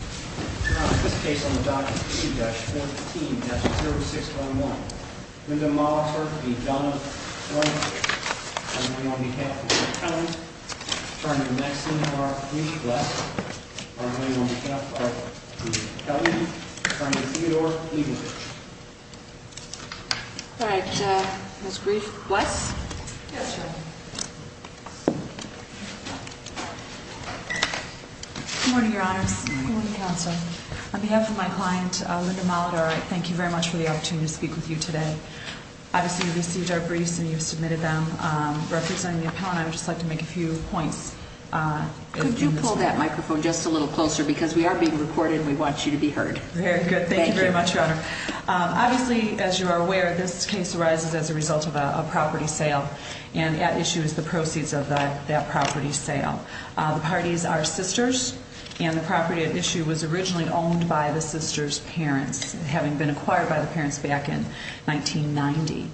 This case on the Doctrine of Indigestion, 14-0611 Linda Molitor v. Donna Levenkirch On behalf of Mr. Kelley On behalf of Ms. Bless On behalf of Ms. Kelley On behalf of Ms. Levenkirch Ms. Brief, Ms. Bless Yes, Your Honor Good morning, Your Honors Good morning, Counsel On behalf of my client, Linda Molitor, I thank you very much for the opportunity to speak with you today Obviously, you've received our briefs and you've submitted them Representing the appellant, I would just like to make a few points Could you pull that microphone just a little closer because we are being recorded and we want you to be heard Very good, thank you very much, Your Honor Obviously, as you are aware, this case arises as a result of a property sale and at issue is the proceeds of that property sale The parties are sisters and the property at issue was originally owned by the sisters' parents having been acquired by the parents back in 1990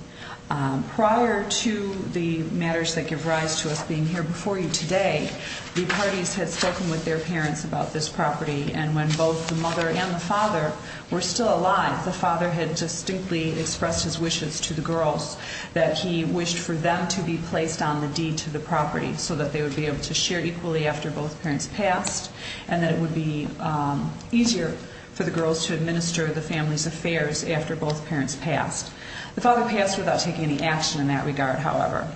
Prior to the matters that give rise to us being here before you today the parties had spoken with their parents about this property and when both the mother and the father were still alive the father had distinctly expressed his wishes to the girls that he wished for them to be placed on the deed to the property so that they would be able to share equally after both parents passed and that it would be easier for the girls to administer the family's affairs after both parents passed The father passed without taking any action in that regard, however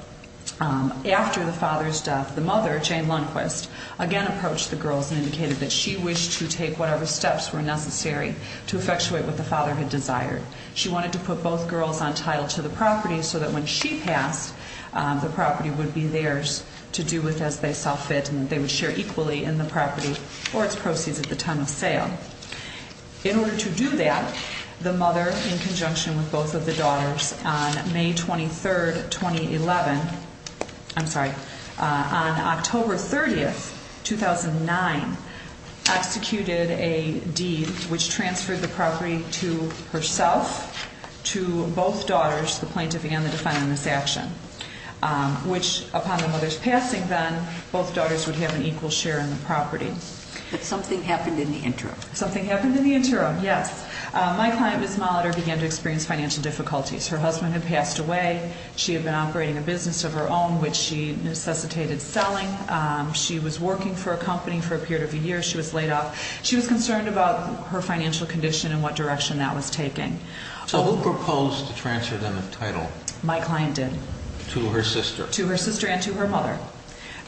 After the father's death, the mother, Jane Lundquist, again approached the girls and indicated that she wished to take whatever steps were necessary to effectuate what the father had desired She wanted to put both girls on title to the property so that when she passed, the property would be theirs to do with as they saw fit and they would share equally in the property or its proceeds at the time of sale In order to do that, the mother, in conjunction with both of the daughters on May 23, 2011, I'm sorry, on October 30, 2009 executed a deed which transferred the property to herself to both daughters, the plaintiff and the defendant in this action which upon the mother's passing then, both daughters would have an equal share in the property But something happened in the interim Something happened in the interim, yes My client, Ms. Molitor, began to experience financial difficulties Her husband had passed away, she had been operating a business of her own which she necessitated selling She was working for a company for a period of a year, she was laid off She was concerned about her financial condition and what direction that was taking So who proposed to transfer them the title? My client did To her sister? To her sister and to her mother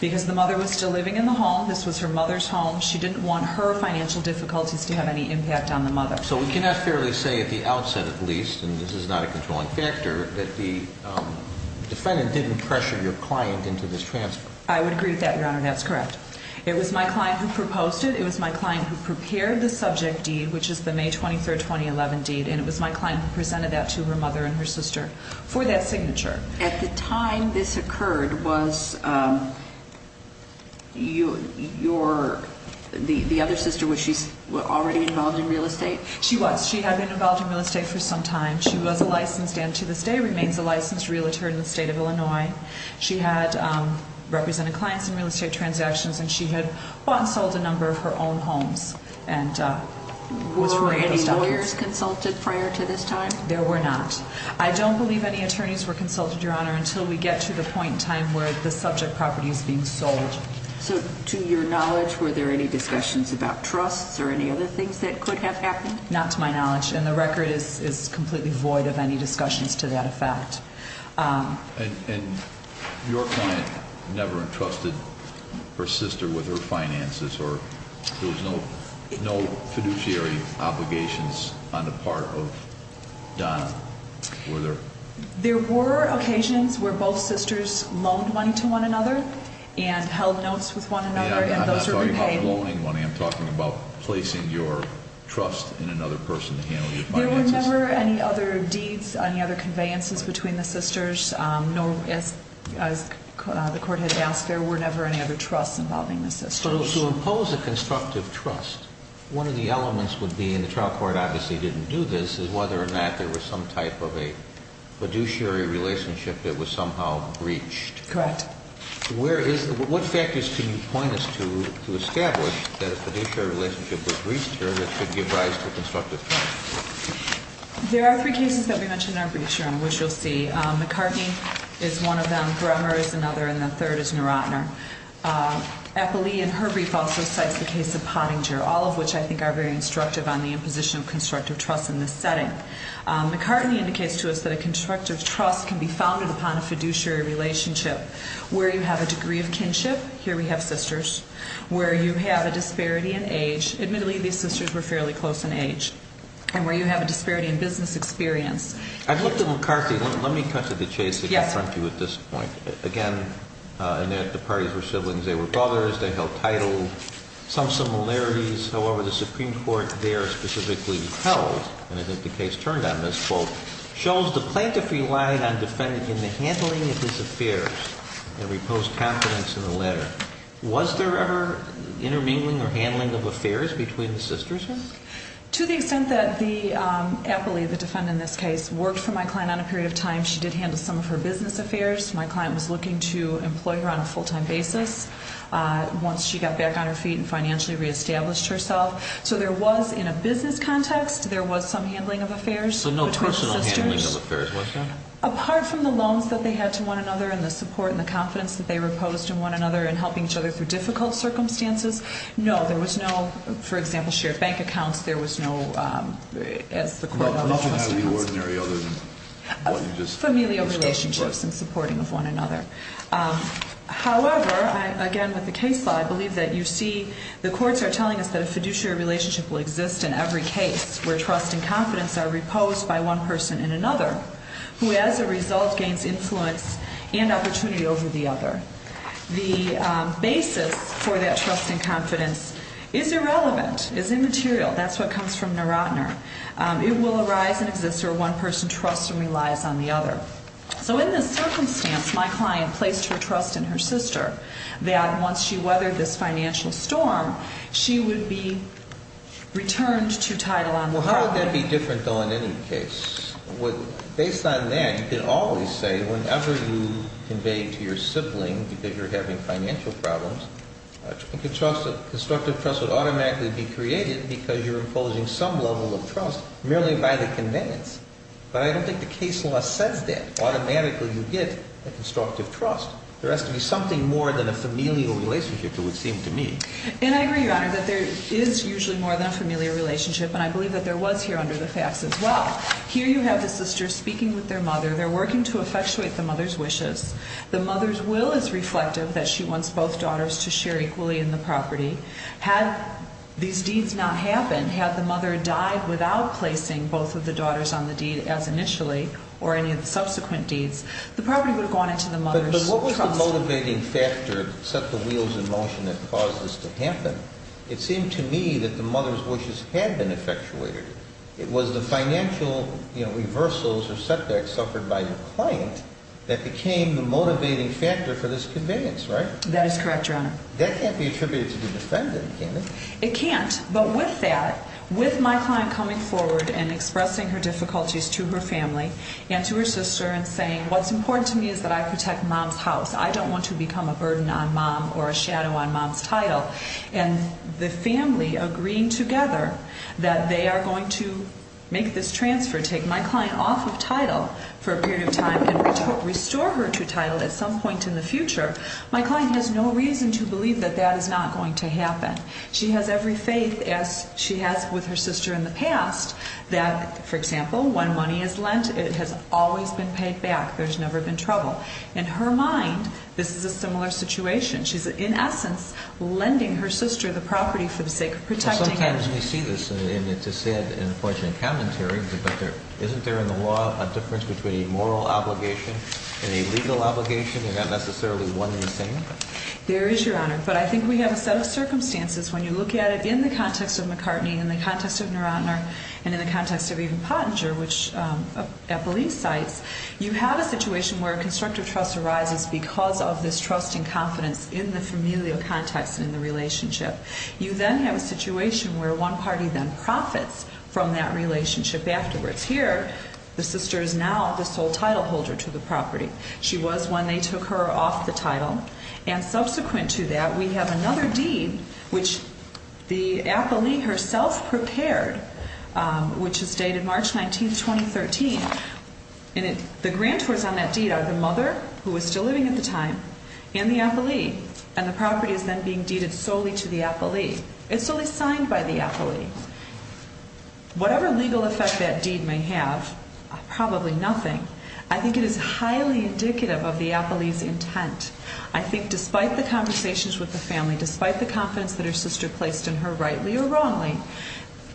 Because the mother was still living in the home, this was her mother's home She didn't want her financial difficulties to have any impact on the mother So we can not fairly say at the outset at least, and this is not a controlling factor that the defendant didn't pressure your client into this transfer I would agree with that, Your Honor, that's correct It was my client who proposed it, it was my client who prepared the subject deed which is the May 23, 2011 deed and it was my client who presented that to her mother and her sister for that signature At the time this occurred, was your, the other sister, was she already involved in real estate? She was, she had been involved in real estate for some time She was a licensed, and to this day remains a licensed realtor in the state of Illinois She had represented clients in real estate transactions and she had bought and sold a number of her own homes Were any lawyers consulted prior to this time? There were not I don't believe any attorneys were consulted, Your Honor, until we get to the point in time where the subject property is being sold So to your knowledge, were there any discussions about trusts or any other things that could have happened? Not to my knowledge, and the record is completely void of any discussions to that effect And your client never entrusted her sister with her finances, or there was no fiduciary obligations on the part of Don, were there? There were occasions where both sisters loaned money to one another and held notes with one another Yeah, I'm not talking about loaning money, I'm talking about placing your trust in another person to handle your finances There were never any other deeds, any other conveyances between the sisters, nor, as the Court had asked, there were never any other trusts involving the sisters So to impose a constructive trust, one of the elements would be, and the trial court obviously didn't do this, is whether or not there was some type of a fiduciary relationship that was somehow breached Correct What factors can you point us to to establish that a fiduciary relationship was breached or that should give rise to a constructive trust? There are three cases that we mentioned in our brief, Your Honor, which you'll see McCartney is one of them, Bremer is another, and the third is Nerotner Eppley in her brief also cites the case of Pottinger, all of which I think are very instructive on the imposition of constructive trust in this setting McCartney indicates to us that a constructive trust can be founded upon a fiduciary relationship where you have a degree of kinship, here we have sisters, where you have a disparity in age Admittedly, these sisters were fairly close in age, and where you have a disparity in business experience I've looked at McCartney, let me cut to the chase and confront you at this point Again, the parties were siblings, they were brothers, they held title, some similarities However, the Supreme Court there specifically held, and I think the case turned on this, quote Shows the plaintiff relied on defendant in the handling of his affairs and reposed confidence in the latter Was there ever intermingling or handling of affairs between the sisters? To the extent that Eppley, the defendant in this case, worked for my client on a period of time She did handle some of her business affairs, my client was looking to employ her on a full-time basis Once she got back on her feet and financially re-established herself So there was, in a business context, there was some handling of affairs between the sisters So no personal handling of affairs, was there? Apart from the loans that they had to one another and the support and the confidence that they reposed in one another And helping each other through difficult circumstances, no, there was no, for example, shared bank accounts There was no, as the court... Nothing highly ordinary other than what you just... Familial relationships and supporting of one another However, again with the case law, I believe that you see The courts are telling us that a fiduciary relationship will exist in every case Where trust and confidence are reposed by one person in another Who as a result gains influence and opportunity over the other The basis for that trust and confidence is irrelevant, is immaterial That's what comes from Narottner It will arise and exist where one person trusts and relies on the other So in this circumstance, my client placed her trust in her sister That once she weathered this financial storm, she would be returned to title on the property Well, how would that be different though in any case? Based on that, you can always say whenever you convey to your sibling That you're having financial problems A constructive trust would automatically be created because you're imposing some level of trust Merely by the conveyance But I don't think the case law says that automatically you get a constructive trust There has to be something more than a familial relationship, it would seem to me And I agree, your honor, that there is usually more than a familial relationship And I believe that there was here under the facts as well Here you have the sister speaking with their mother They're working to effectuate the mother's wishes The mother's will is reflective that she wants both daughters to share equally in the property Had these deeds not happened Had the mother died without placing both of the daughters on the deed as initially Or any of the subsequent deeds, the property would have gone into the mother's trust But what was the motivating factor that set the wheels in motion that caused this to happen? It seemed to me that the mother's wishes had been effectuated It was the financial reversals or setbacks suffered by the client That became the motivating factor for this conveyance, right? That is correct, your honor That can't be attributed to the defendant, can it? It can't, but with that, with my client coming forward and expressing her difficulties to her family And to her sister and saying what's important to me is that I protect mom's house I don't want to become a burden on mom or a shadow on mom's title And the family agreeing together that they are going to make this transfer Take my client off of title for a period of time and restore her to title at some point in the future My client has no reason to believe that that is not going to happen She has every faith as she has with her sister in the past That, for example, when money is lent, it has always been paid back There's never been trouble In her mind, this is a similar situation She's in essence lending her sister the property for the sake of protecting it Sometimes we see this and it's a sad and unfortunate commentary But isn't there in the law a difference between a moral obligation and a legal obligation? And not necessarily one and the same? There is, Your Honor But I think we have a set of circumstances When you look at it in the context of McCartney, in the context of Nerottner And in the context of even Pottinger, which Eppeley cites You have a situation where constructive trust arises because of this trust and confidence In the familial context and in the relationship You then have a situation where one party then profits from that relationship afterwards Here, the sister is now the sole title holder to the property She was when they took her off the title And subsequent to that, we have another deed which the appellee herself prepared Which is dated March 19, 2013 And the grantors on that deed are the mother, who was still living at the time, and the appellee And the property is then being deeded solely to the appellee It's only signed by the appellee Whatever legal effect that deed may have, probably nothing I think it is highly indicative of the appellee's intent I think despite the conversations with the family Despite the confidence that her sister placed in her, rightly or wrongly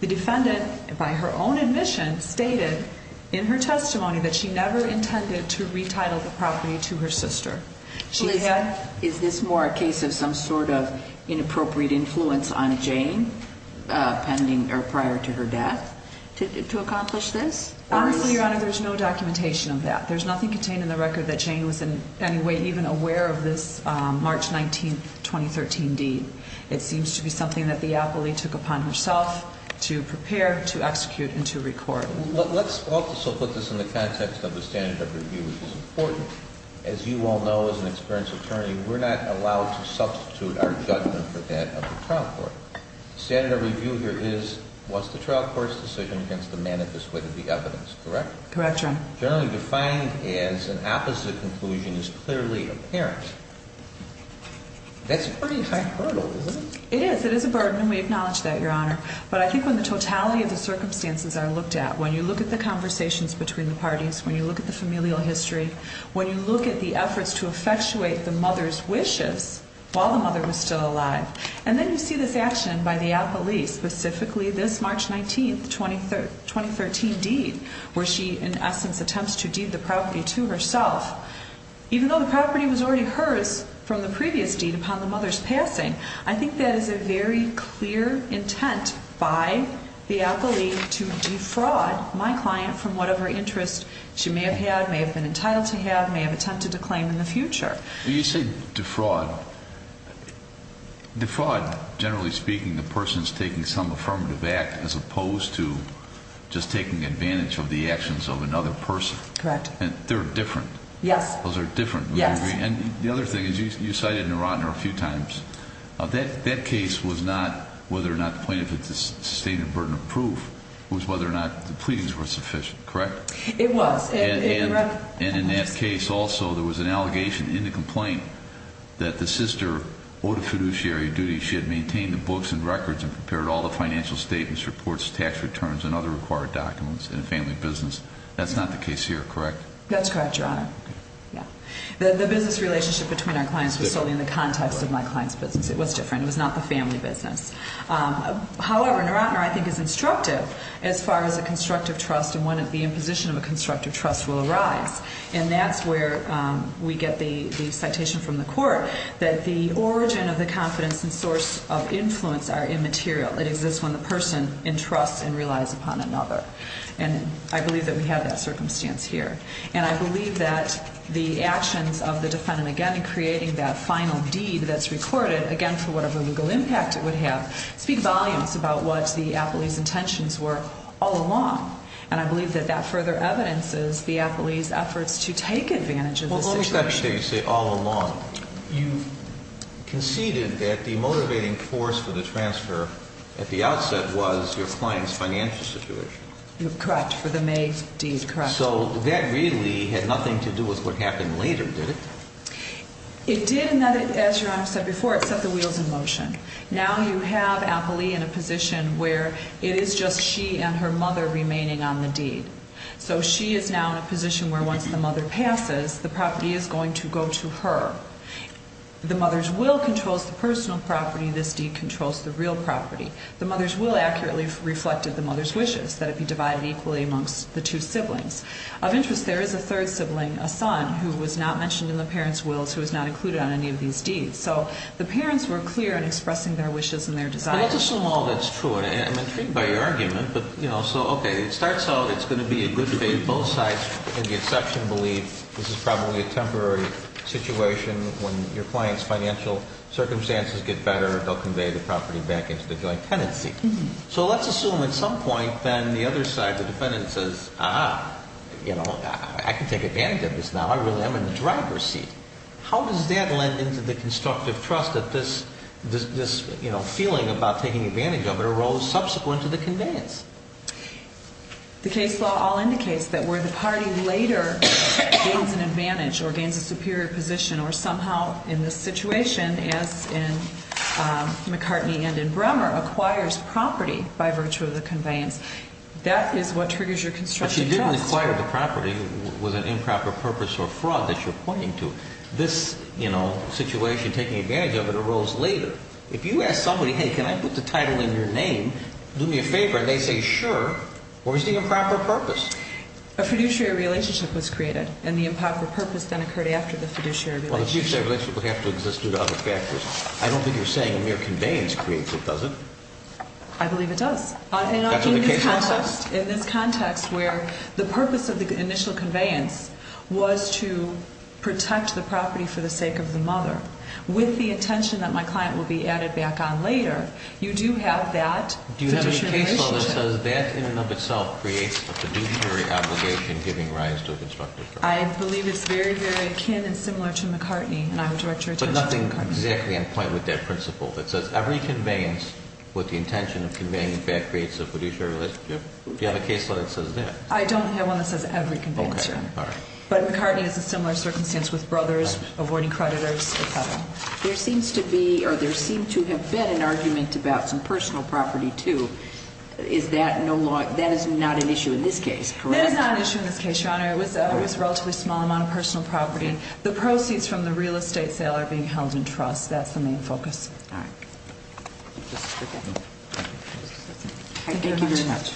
The defendant, by her own admission, stated in her testimony That she never intended to retitle the property to her sister Is this more a case of some sort of inappropriate influence on Jane prior to her death? To accomplish this? Honestly, Your Honor, there's no documentation of that There's nothing contained in the record that Jane was in any way even aware of this March 19, 2013 deed It seems to be something that the appellee took upon herself to prepare, to execute, and to record Let's also put this in the context of the standard of review, which is important As you all know, as an experienced attorney We're not allowed to substitute our judgment for that of the trial court The standard of review here is, was the trial court's decision against the manifest wit of the evidence, correct? Correct, Your Honor Generally defined as an opposite conclusion is clearly apparent That's a pretty tight hurdle, isn't it? It is, it is a burden, and we acknowledge that, Your Honor But I think when the totality of the circumstances are looked at When you look at the conversations between the parties When you look at the familial history When you look at the efforts to effectuate the mother's wishes While the mother was still alive And then you see this action by the appellee Specifically this March 19, 2013 deed Where she, in essence, attempts to deed the property to herself Even though the property was already hers from the previous deed upon the mother's passing I think that is a very clear intent by the appellee To defraud my client from whatever interest she may have had May have been entitled to have, may have attempted to claim in the future When you say defraud Defraud, generally speaking, the person's taking some affirmative act As opposed to just taking advantage of the actions of another person Correct And they're different Yes Those are different Yes And the other thing is, you cited Narottner a few times That case was not whether or not the plaintiff had sustained a burden of proof It was whether or not the pleadings were sufficient, correct? It was And in that case, also, there was an allegation in the complaint That the sister owed a fiduciary duty She had maintained the books and records And prepared all the financial statements, reports, tax returns And other required documents in a family business That's not the case here, correct? That's correct, Your Honor The business relationship between our clients was solely in the context of my client's business It was different, it was not the family business However, Narottner, I think, is instructive As far as a constructive trust and when the imposition of a constructive trust will arise And that's where we get the citation from the court That the origin of the confidence and source of influence are immaterial It exists when the person entrusts and relies upon another And I believe that we have that circumstance here And I believe that the actions of the defendant, again, in creating that final deed that's recorded Again, for whatever legal impact it would have Speak volumes about what the appellee's intentions were all along And I believe that that further evidences the appellee's efforts to take advantage of the situation Well, what was that case that you say all along? You conceded that the motivating force for the transfer at the outset was your client's financial situation Correct, for the May deed, correct So that really had nothing to do with what happened later, did it? It did, and as Your Honor said before, it set the wheels in motion Now you have appellee in a position where it is just she and her mother remaining on the deed So she is now in a position where once the mother passes, the property is going to go to her The mother's will controls the personal property, this deed controls the real property The mother's will accurately reflected the mother's wishes, that it be divided equally amongst the two siblings Of interest, there is a third sibling, a son, who was not mentioned in the parent's will So he's not included on any of these deeds So the parents were clear in expressing their wishes and their desires But let's assume all that's true, I'm intrigued by your argument So, okay, it starts out, it's going to be a good fit, both sides in the exception believe This is probably a temporary situation, when your client's financial circumstances get better They'll convey the property back into the joint tenancy So let's assume at some point then the other side, the defendant says Ah, you know, I can take advantage of this now, I really am in the driver's seat How does that lend into the constructive trust that this feeling about taking advantage of it Arose subsequent to the conveyance? The case law all indicates that where the party later gains an advantage Or gains a superior position, or somehow in this situation As in McCartney and in Bremer, acquires property by virtue of the conveyance That is what triggers your constructive trust You don't acquire the property with an improper purpose or fraud that you're pointing to This, you know, situation, taking advantage of it, arose later If you ask somebody, hey, can I put the title in your name, do me a favor And they say, sure, where's the improper purpose? A fiduciary relationship was created And the improper purpose then occurred after the fiduciary relationship Well, the fiduciary relationship would have to exist due to other factors I don't think you're saying a mere conveyance creates it, does it? I believe it does In this context, where the purpose of the initial conveyance Was to protect the property for the sake of the mother With the intention that my client will be added back on later You do have that fiduciary relationship Do you have any case law that says that in and of itself creates a fiduciary obligation Giving rise to a constructive trust? I believe it's very, very akin and similar to McCartney And I would direct your attention to McCartney But nothing exactly in point with that principle That says every conveyance with the intention of conveying back creates a fiduciary relationship Do you have a case law that says that? I don't have one that says every conveyance, Your Honor But McCartney is a similar circumstance with brothers, avoiding creditors, et cetera There seems to be, or there seems to have been an argument about some personal property, too Is that no longer, that is not an issue in this case, correct? That is not an issue in this case, Your Honor It was a relatively small amount of personal property The proceeds from the real estate sale are being held in trust That's the main focus All right Thank you very much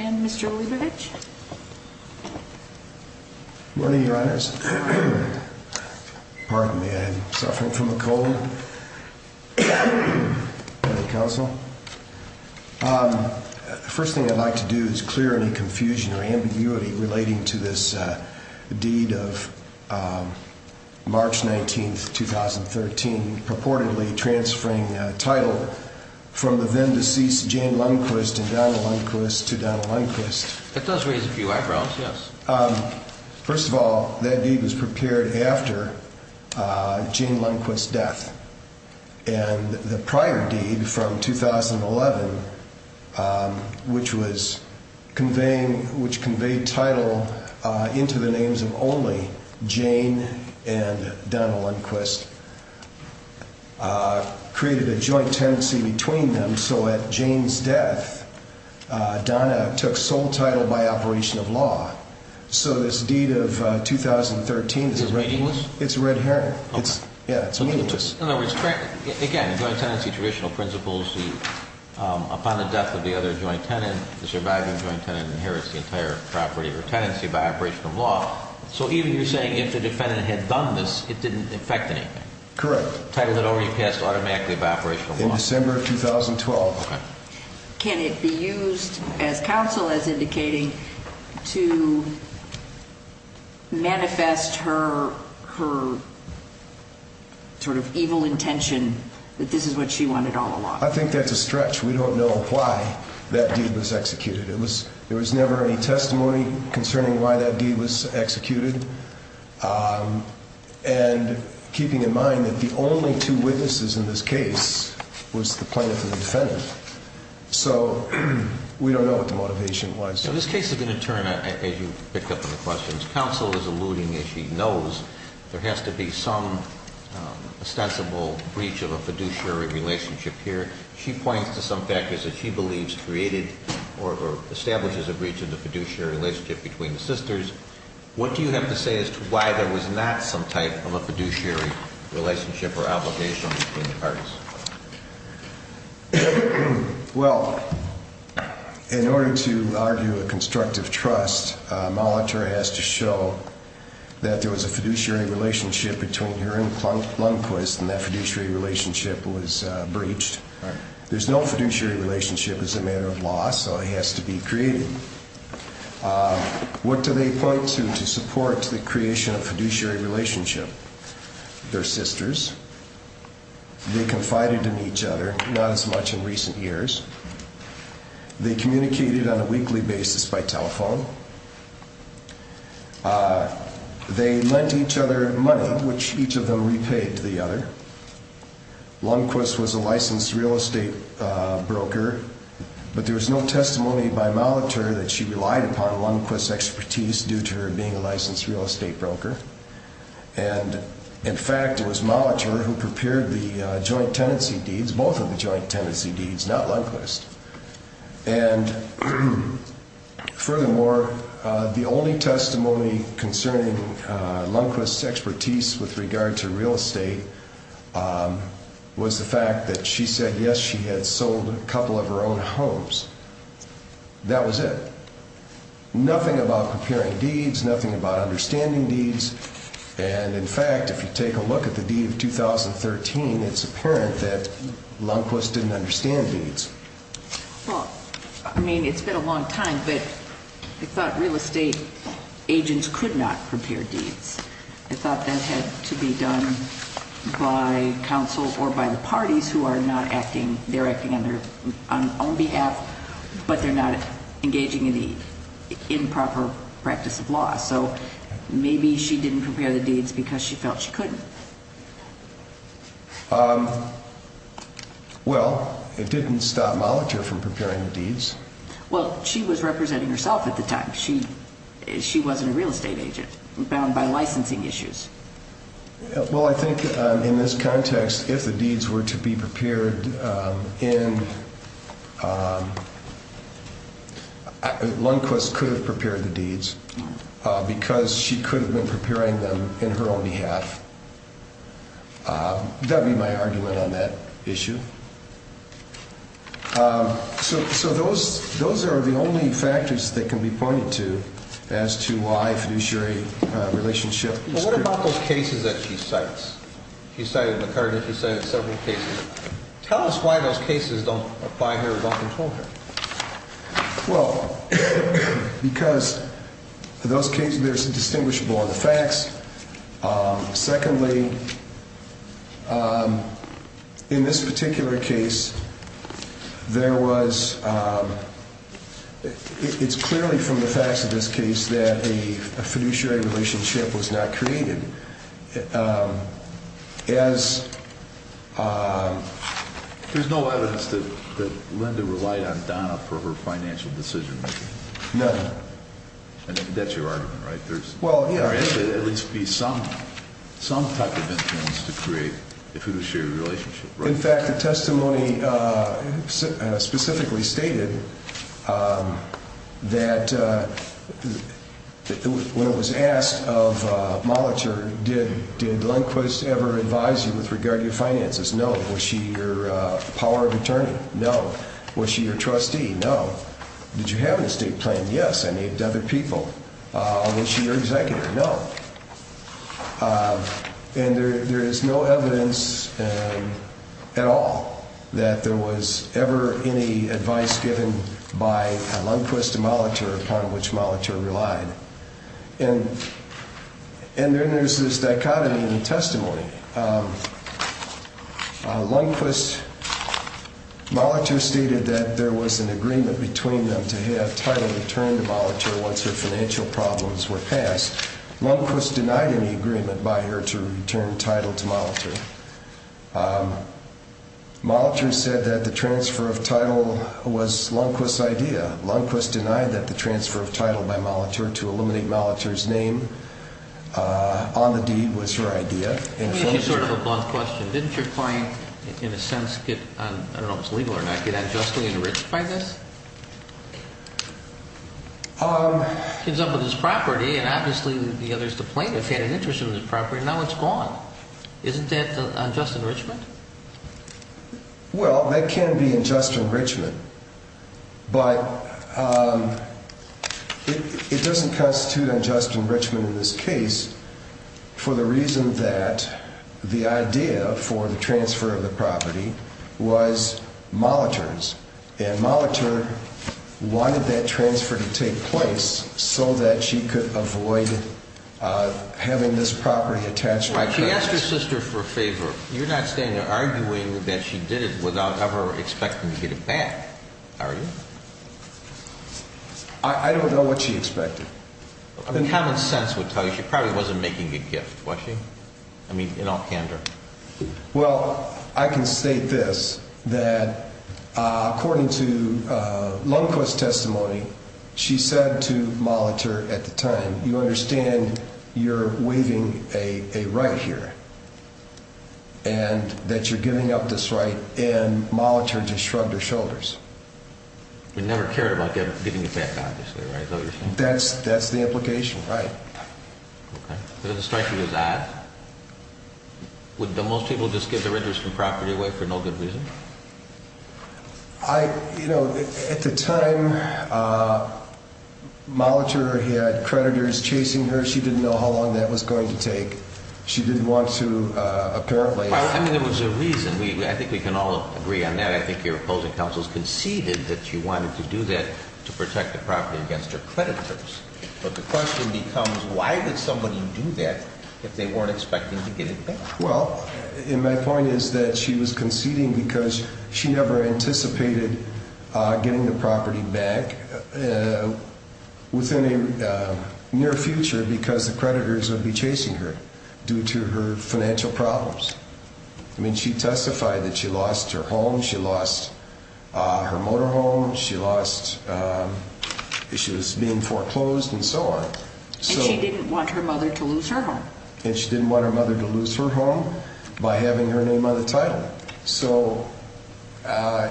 And Mr. Leibovich? Good morning, Your Honors Pardon me, I'm suffering from a cold And counsel The first thing I'd like to do is clear any confusion or ambiguity relating to this deed of March 19th, 2013 Purportedly transferring title from the then deceased Jane Lundquist and Donna Lundquist to Donna Lundquist It does raise a few eyebrows, yes First of all, that deed was prepared after Jane Lundquist's death And the prior deed from 2011 Which was conveying, which conveyed title Into the names of only Jane and Donna Lundquist Created a joint tenancy between them So at Jane's death, Donna took sole title by operation of law So this deed of 2013 Is it meaningless? It's red herring Okay Yeah, it's meaningless In other words, again, joint tenancy traditional principles Upon the death of the other joint tenant The surviving joint tenant inherits the entire property or tenancy by operation of law So even if you're saying if the defendant had done this, it didn't affect anything Correct Title that already passed automatically by operation of law In December of 2012 Okay Can it be used, as counsel is indicating To manifest her, her sort of evil intention That this is what she wanted all along I think that's a stretch We don't know why that deed was executed It was, there was never any testimony concerning why that deed was executed And keeping in mind that the only two witnesses in this case Was the plaintiff and the defendant So we don't know what the motivation was So this case is going to turn, as you pick up on the questions Counsel is alluding, as she knows There has to be some ostensible breach of a fiduciary relationship here She points to some factors that she believes created Or establishes a breach of the fiduciary relationship between the sisters What do you have to say as to why there was not some type of a fiduciary relationship Or obligation between the parties Well, in order to argue a constructive trust Molitor has to show that there was a fiduciary relationship Between her and Plumquist And that fiduciary relationship was breached There's no fiduciary relationship as a matter of law So it has to be created What do they point to to support the creation of a fiduciary relationship Their sisters They confided in each other Not as much in recent years They communicated on a weekly basis by telephone They lent each other money Which each of them repaid to the other Plumquist was a licensed real estate broker But there was no testimony by Molitor That she relied upon Plumquist's expertise Due to her being a licensed real estate broker And in fact it was Molitor who prepared the joint tenancy deeds Both of the joint tenancy deeds, not Plumquist And furthermore The only testimony concerning Plumquist's expertise With regard to real estate Was the fact that she said yes She had sold a couple of her own homes That was it Nothing about preparing deeds Nothing about understanding deeds And in fact if you take a look at the deed of 2013 It's apparent that Plumquist didn't understand deeds Well, I mean it's been a long time But I thought real estate agents could not prepare deeds I thought that had to be done by counsel Or by the parties who are not acting They're acting on their own behalf But they're not engaging in the improper practice of law So maybe she didn't prepare the deeds Because she felt she couldn't Well, it didn't stop Molitor from preparing the deeds Well, she was representing herself at the time She wasn't a real estate agent Bound by licensing issues Well, I think in this context If the deeds were to be prepared in Plumquist could have prepared the deeds Because she could have been preparing them in her own behalf That would be my argument on that issue So those are the only factors that can be pointed to As to why a fiduciary relationship is critical What about those cases that she cites? She cited McCarty, she cited several cases Tell us why those cases don't apply here Don't control here Well, because those cases They're indistinguishable on the facts Secondly, in this particular case It's clearly from the facts of this case That a fiduciary relationship was not created There's no evidence that Linda relied on Donna For her financial decision-making None That's your argument, right? There had to at least be some type of influence To create a fiduciary relationship In fact, the testimony specifically stated That when it was asked of Molitor Did Lindquist ever advise you with regard to your finances? No Was she your power of attorney? No Was she your trustee? No Did you have an estate plan? Yes I need other people Was she your executive? No And there is no evidence at all That there was ever any advice given by Lindquist to Molitor Upon which Molitor relied And then there's this dichotomy in the testimony Lindquist, Molitor stated that there was an agreement Between them to have Title return to Molitor Once her financial problems were passed Lindquist denied any agreement by her to return Title to Molitor Molitor said that the transfer of Title was Lindquist's idea Lindquist denied that the transfer of Title by Molitor To eliminate Molitor's name on the deed was her idea Let me ask you sort of a blunt question Didn't your client in a sense get, I don't know if it's legal or not Get unjustly enriched by this? He comes up with this property and obviously the plaintiff had an interest in this property And now it's gone Isn't that unjust enrichment? Well that can be unjust enrichment But it doesn't constitute unjust enrichment in this case For the reason that the idea for the transfer of the property Was Molitor's And Molitor wanted that transfer to take place So that she could avoid having this property attached to her She asked her sister for a favor You're not arguing that she did it without ever expecting to get it back, are you? I don't know what she expected Common sense would tell you she probably wasn't making a gift, was she? I mean in all candor Well, I can state this That according to Lundquist's testimony She said to Molitor at the time You understand you're waiving a right here And that you're giving up this right And Molitor just shrugged her shoulders She never cared about getting it back obviously, right? That's the implication, right Okay, so the strike was odd Would most people just give their interest in property away for no good reason? You know, at the time Molitor had creditors chasing her She didn't know how long that was going to take She didn't want to apparently Well, I mean there was a reason I think we can all agree on that I think your opposing counsels conceded that she wanted to do that To protect the property against her creditors But the question becomes Why would somebody do that if they weren't expecting to get it back? Well, and my point is that she was conceding because She never anticipated getting the property back Within a near future because the creditors would be chasing her Due to her financial problems I mean she testified that she lost her home She lost her motor home She was being foreclosed and so on And she didn't want her mother to lose her home And she didn't want her mother to lose her home By having her name on the title So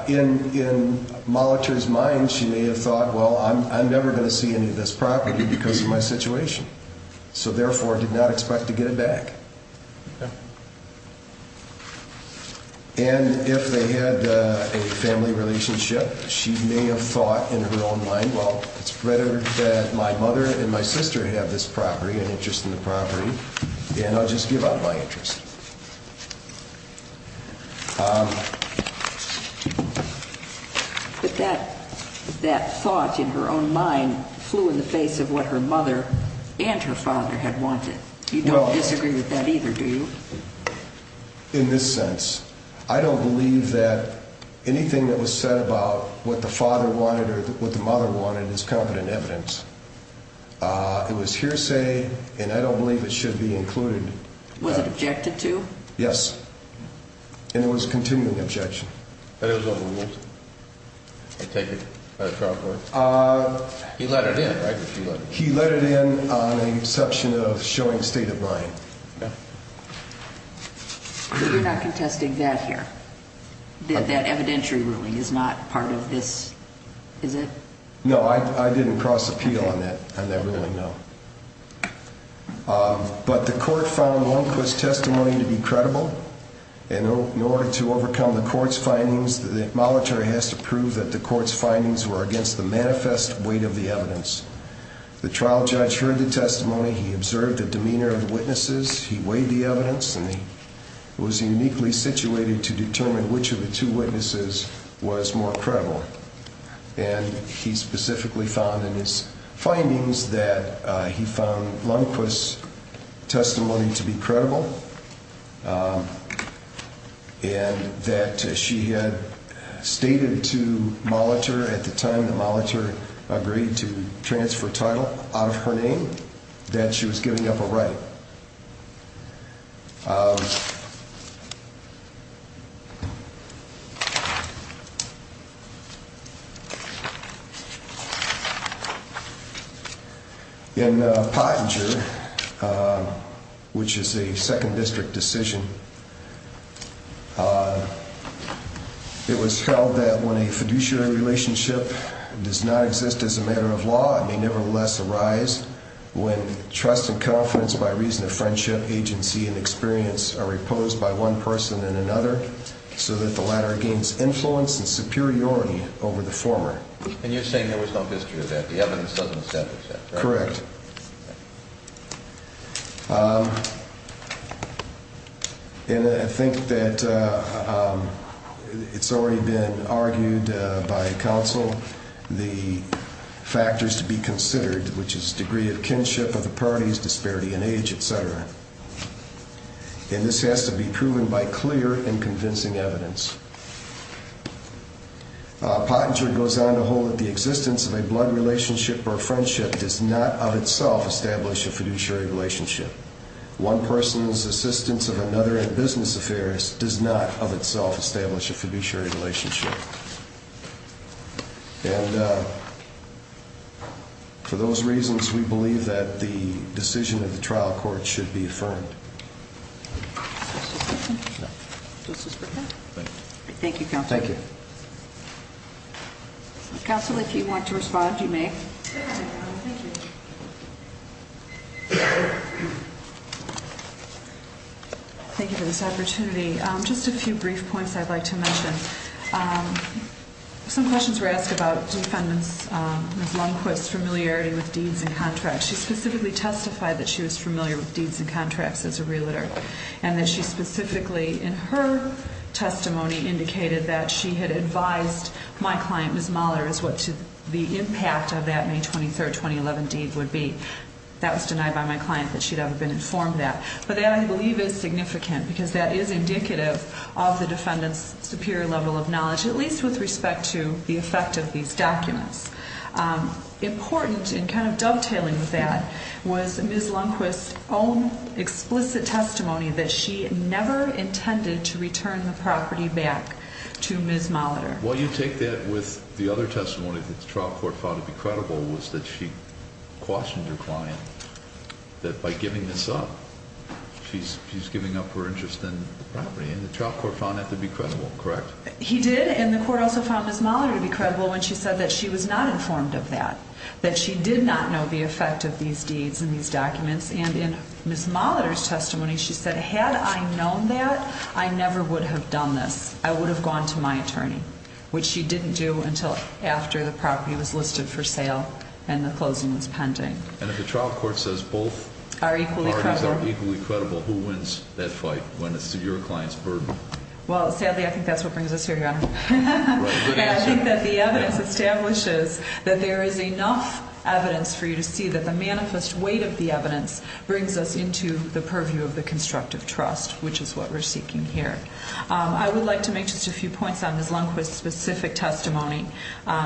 in Molitor's mind she may have thought Well, I'm never going to see any of this property because of my situation So therefore did not expect to get it back And if they had a family relationship She may have thought in her own mind Well, it's better that my mother and my sister have this property An interest in the property And I'll just give up my interest But that thought in her own mind Flew in the face of what her mother and her father had wanted You don't disagree with that either, do you? In this sense I don't believe that anything that was said about What the father wanted or what the mother wanted Is competent evidence It was hearsay And I don't believe it should be included Was it objected to? Yes And it was a continuing objection He let it in on the exception of showing state of mind You're not contesting that here That evidentiary ruling is not part of this Is it? No, I didn't cross appeal on that I never really know But the court found Longquist's testimony to be credible And in order to overcome the court's findings The Molitor has to prove that the court's findings Were against the manifest weight of the evidence The trial judge heard the testimony He observed the demeanor of the witnesses He weighed the evidence And he was uniquely situated to determine Which of the two witnesses was more credible And he specifically found in his findings That he found Longquist's testimony to be credible And that she had stated to Molitor At the time that Molitor agreed to transfer title Out of her name That she was giving up her right In Pottinger Which is a second district decision It was held that when a fiduciary relationship Does not exist as a matter of law It may nevertheless arise When trust and confidence By reason of friendship, agency and experience Are reposed by one person and another So that the latter gains influence and superiority Over the former And you're saying there was no history of that The evidence doesn't establish that Correct And I think that It's already been argued by counsel The factors to be considered Which is degree of kinship of the parties Disparity in age, etc. And this has to be proven by clear and convincing evidence Pottinger goes on to hold That the existence of a blood relationship or friendship Does not of itself establish a fiduciary relationship One person's assistance of another in business affairs Does not of itself establish a fiduciary relationship And for those reasons We believe that the decision of the trial court Should be affirmed Thank you, counsel Counsel, if you want to respond, you may Thank you for this opportunity Just a few brief points I'd like to mention Some questions were asked about Defendant Ms. Lundquist's familiarity with deeds and contracts She specifically testified that she was familiar With deeds and contracts as a realtor And that she specifically in her testimony Indicated that she had advised my client, Ms. Mahler As what the impact of that May 23, 2011 deed would be That was denied by my client That she'd ever been informed of that But that I believe is significant Because that is indicative of the defendant's Superior level of knowledge At least with respect to the effect of these documents Important in kind of dovetailing with that Was Ms. Lundquist's own explicit testimony That she never intended to return the property back To Ms. Mahler Well, you take that with the other testimony That the trial court found to be credible Was that she cautioned her client That by giving this up She's giving up her interest in the property And the trial court found that to be credible, correct? He did, and the court also found Ms. Mahler to be credible When she said that she was not informed of that That she did not know the effect of these deeds And these documents And in Ms. Mahler's testimony She said, had I known that I never would have done this I would have gone to my attorney Which she didn't do until after the property was listed for sale And the closing was pending And if the trial court says both parties are equally credible Who wins that fight When it's to your client's burden? Well, sadly, I think that's what brings us here, Your Honor And I think that the evidence establishes That there is enough evidence for you to see That the manifest weight of the evidence Brings us into the purview of the constructive trust Which is what we're seeking here I would like to make just a few points On Ms. Lundquist's specific testimony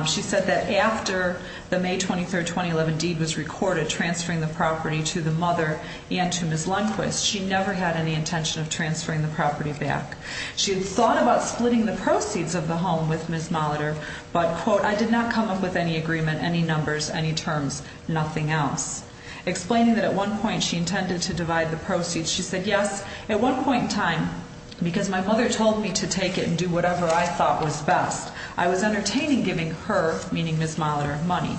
She said that after the May 23, 2011 deed was recorded Transferring the property to the mother And to Ms. Lundquist She never had any intention of transferring the property back She had thought about splitting the proceeds of the home with Ms. Mahler But, quote, I did not come up with any agreement Any numbers, any terms, nothing else Explaining that at one point she intended to divide the proceeds She said, yes, at one point in time Because my mother told me to take it And do whatever I thought was best I was entertaining giving her, meaning Ms. Mahler, money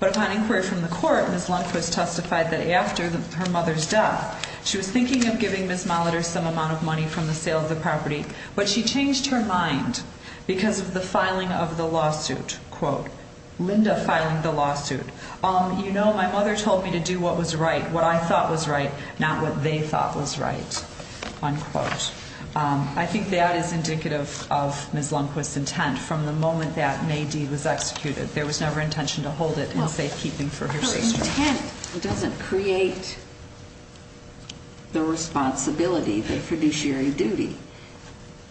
But upon inquiry from the court Ms. Lundquist testified that after her mother's death She was thinking of giving Ms. Mahler some amount of money From the sale of the property But she changed her mind Because of the filing of the lawsuit, quote Linda filing the lawsuit You know, my mother told me to do what was right What I thought was right Not what they thought was right, unquote I think that is indicative of Ms. Lundquist's intent From the moment that May D was executed There was never intention to hold it Her intent doesn't create the responsibility The fiduciary duty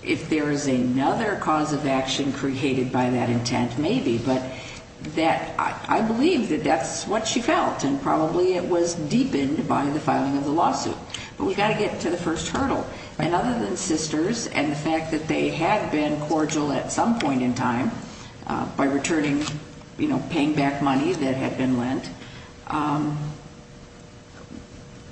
If there is another cause of action Created by that intent, maybe But I believe that that's what she felt And probably it was deepened by the filing of the lawsuit But we've got to get to the first hurdle And other than sisters And the fact that they had been cordial at some point in time By returning, you know, paying back money that had been lent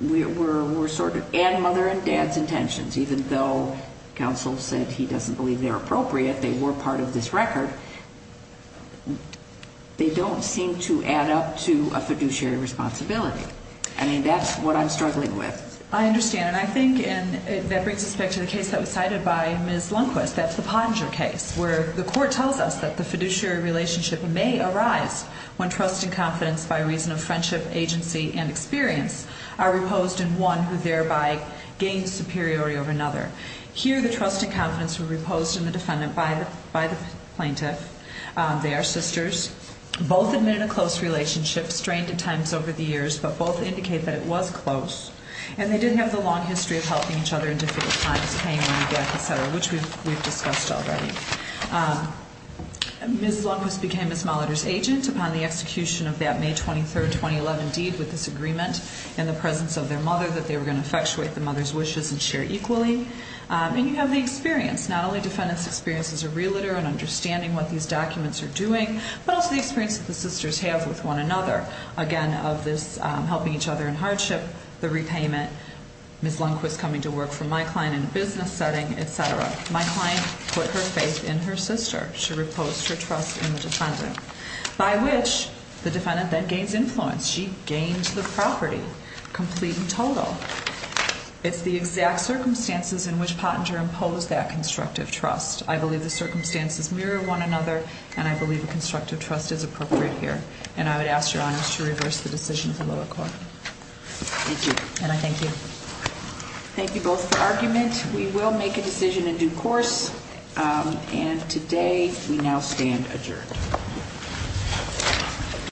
We're sort of, and mother and dad's intentions Even though counsel said he doesn't believe they're appropriate They were part of this record They don't seem to add up to a fiduciary responsibility And that's what I'm struggling with I understand, and I think And that brings us back to the case that was cited by Ms. Lundquist That's the Pottinger case Where the court tells us That the fiduciary relationship may arise When trust and confidence By reason of friendship, agency, and experience Are reposed in one Who thereby gains superiority over another Here the trust and confidence were reposed in the defendant By the plaintiff They are sisters Both admitted a close relationship Strained at times over the years But both indicate that it was close And they didn't have the long history of helping each other In difficult times Paying money back, et cetera Which we've discussed already Ms. Lundquist became Ms. Molitor's agent Upon the execution of that May 23, 2011 deed With this agreement In the presence of their mother That they were going to effectuate the mother's wishes And share equally And you have the experience Not only defendant's experience as a realtor And understanding what these documents are doing But also the experience that the sisters have with one another Again, of this helping each other in hardship The repayment Ms. Lundquist coming to work for my client In a business setting, et cetera My client put her faith in her sister She reposed her trust in the defendant By which the defendant then gains influence She gains the property Complete and total It's the exact circumstances In which Pottinger imposed that constructive trust I believe the circumstances mirror one another And I believe a constructive trust is appropriate here And I would ask Your Honor to reverse the decision of the lower court Thank you And I thank you Thank you both for argument We will make a decision in due course And today we now stand adjourned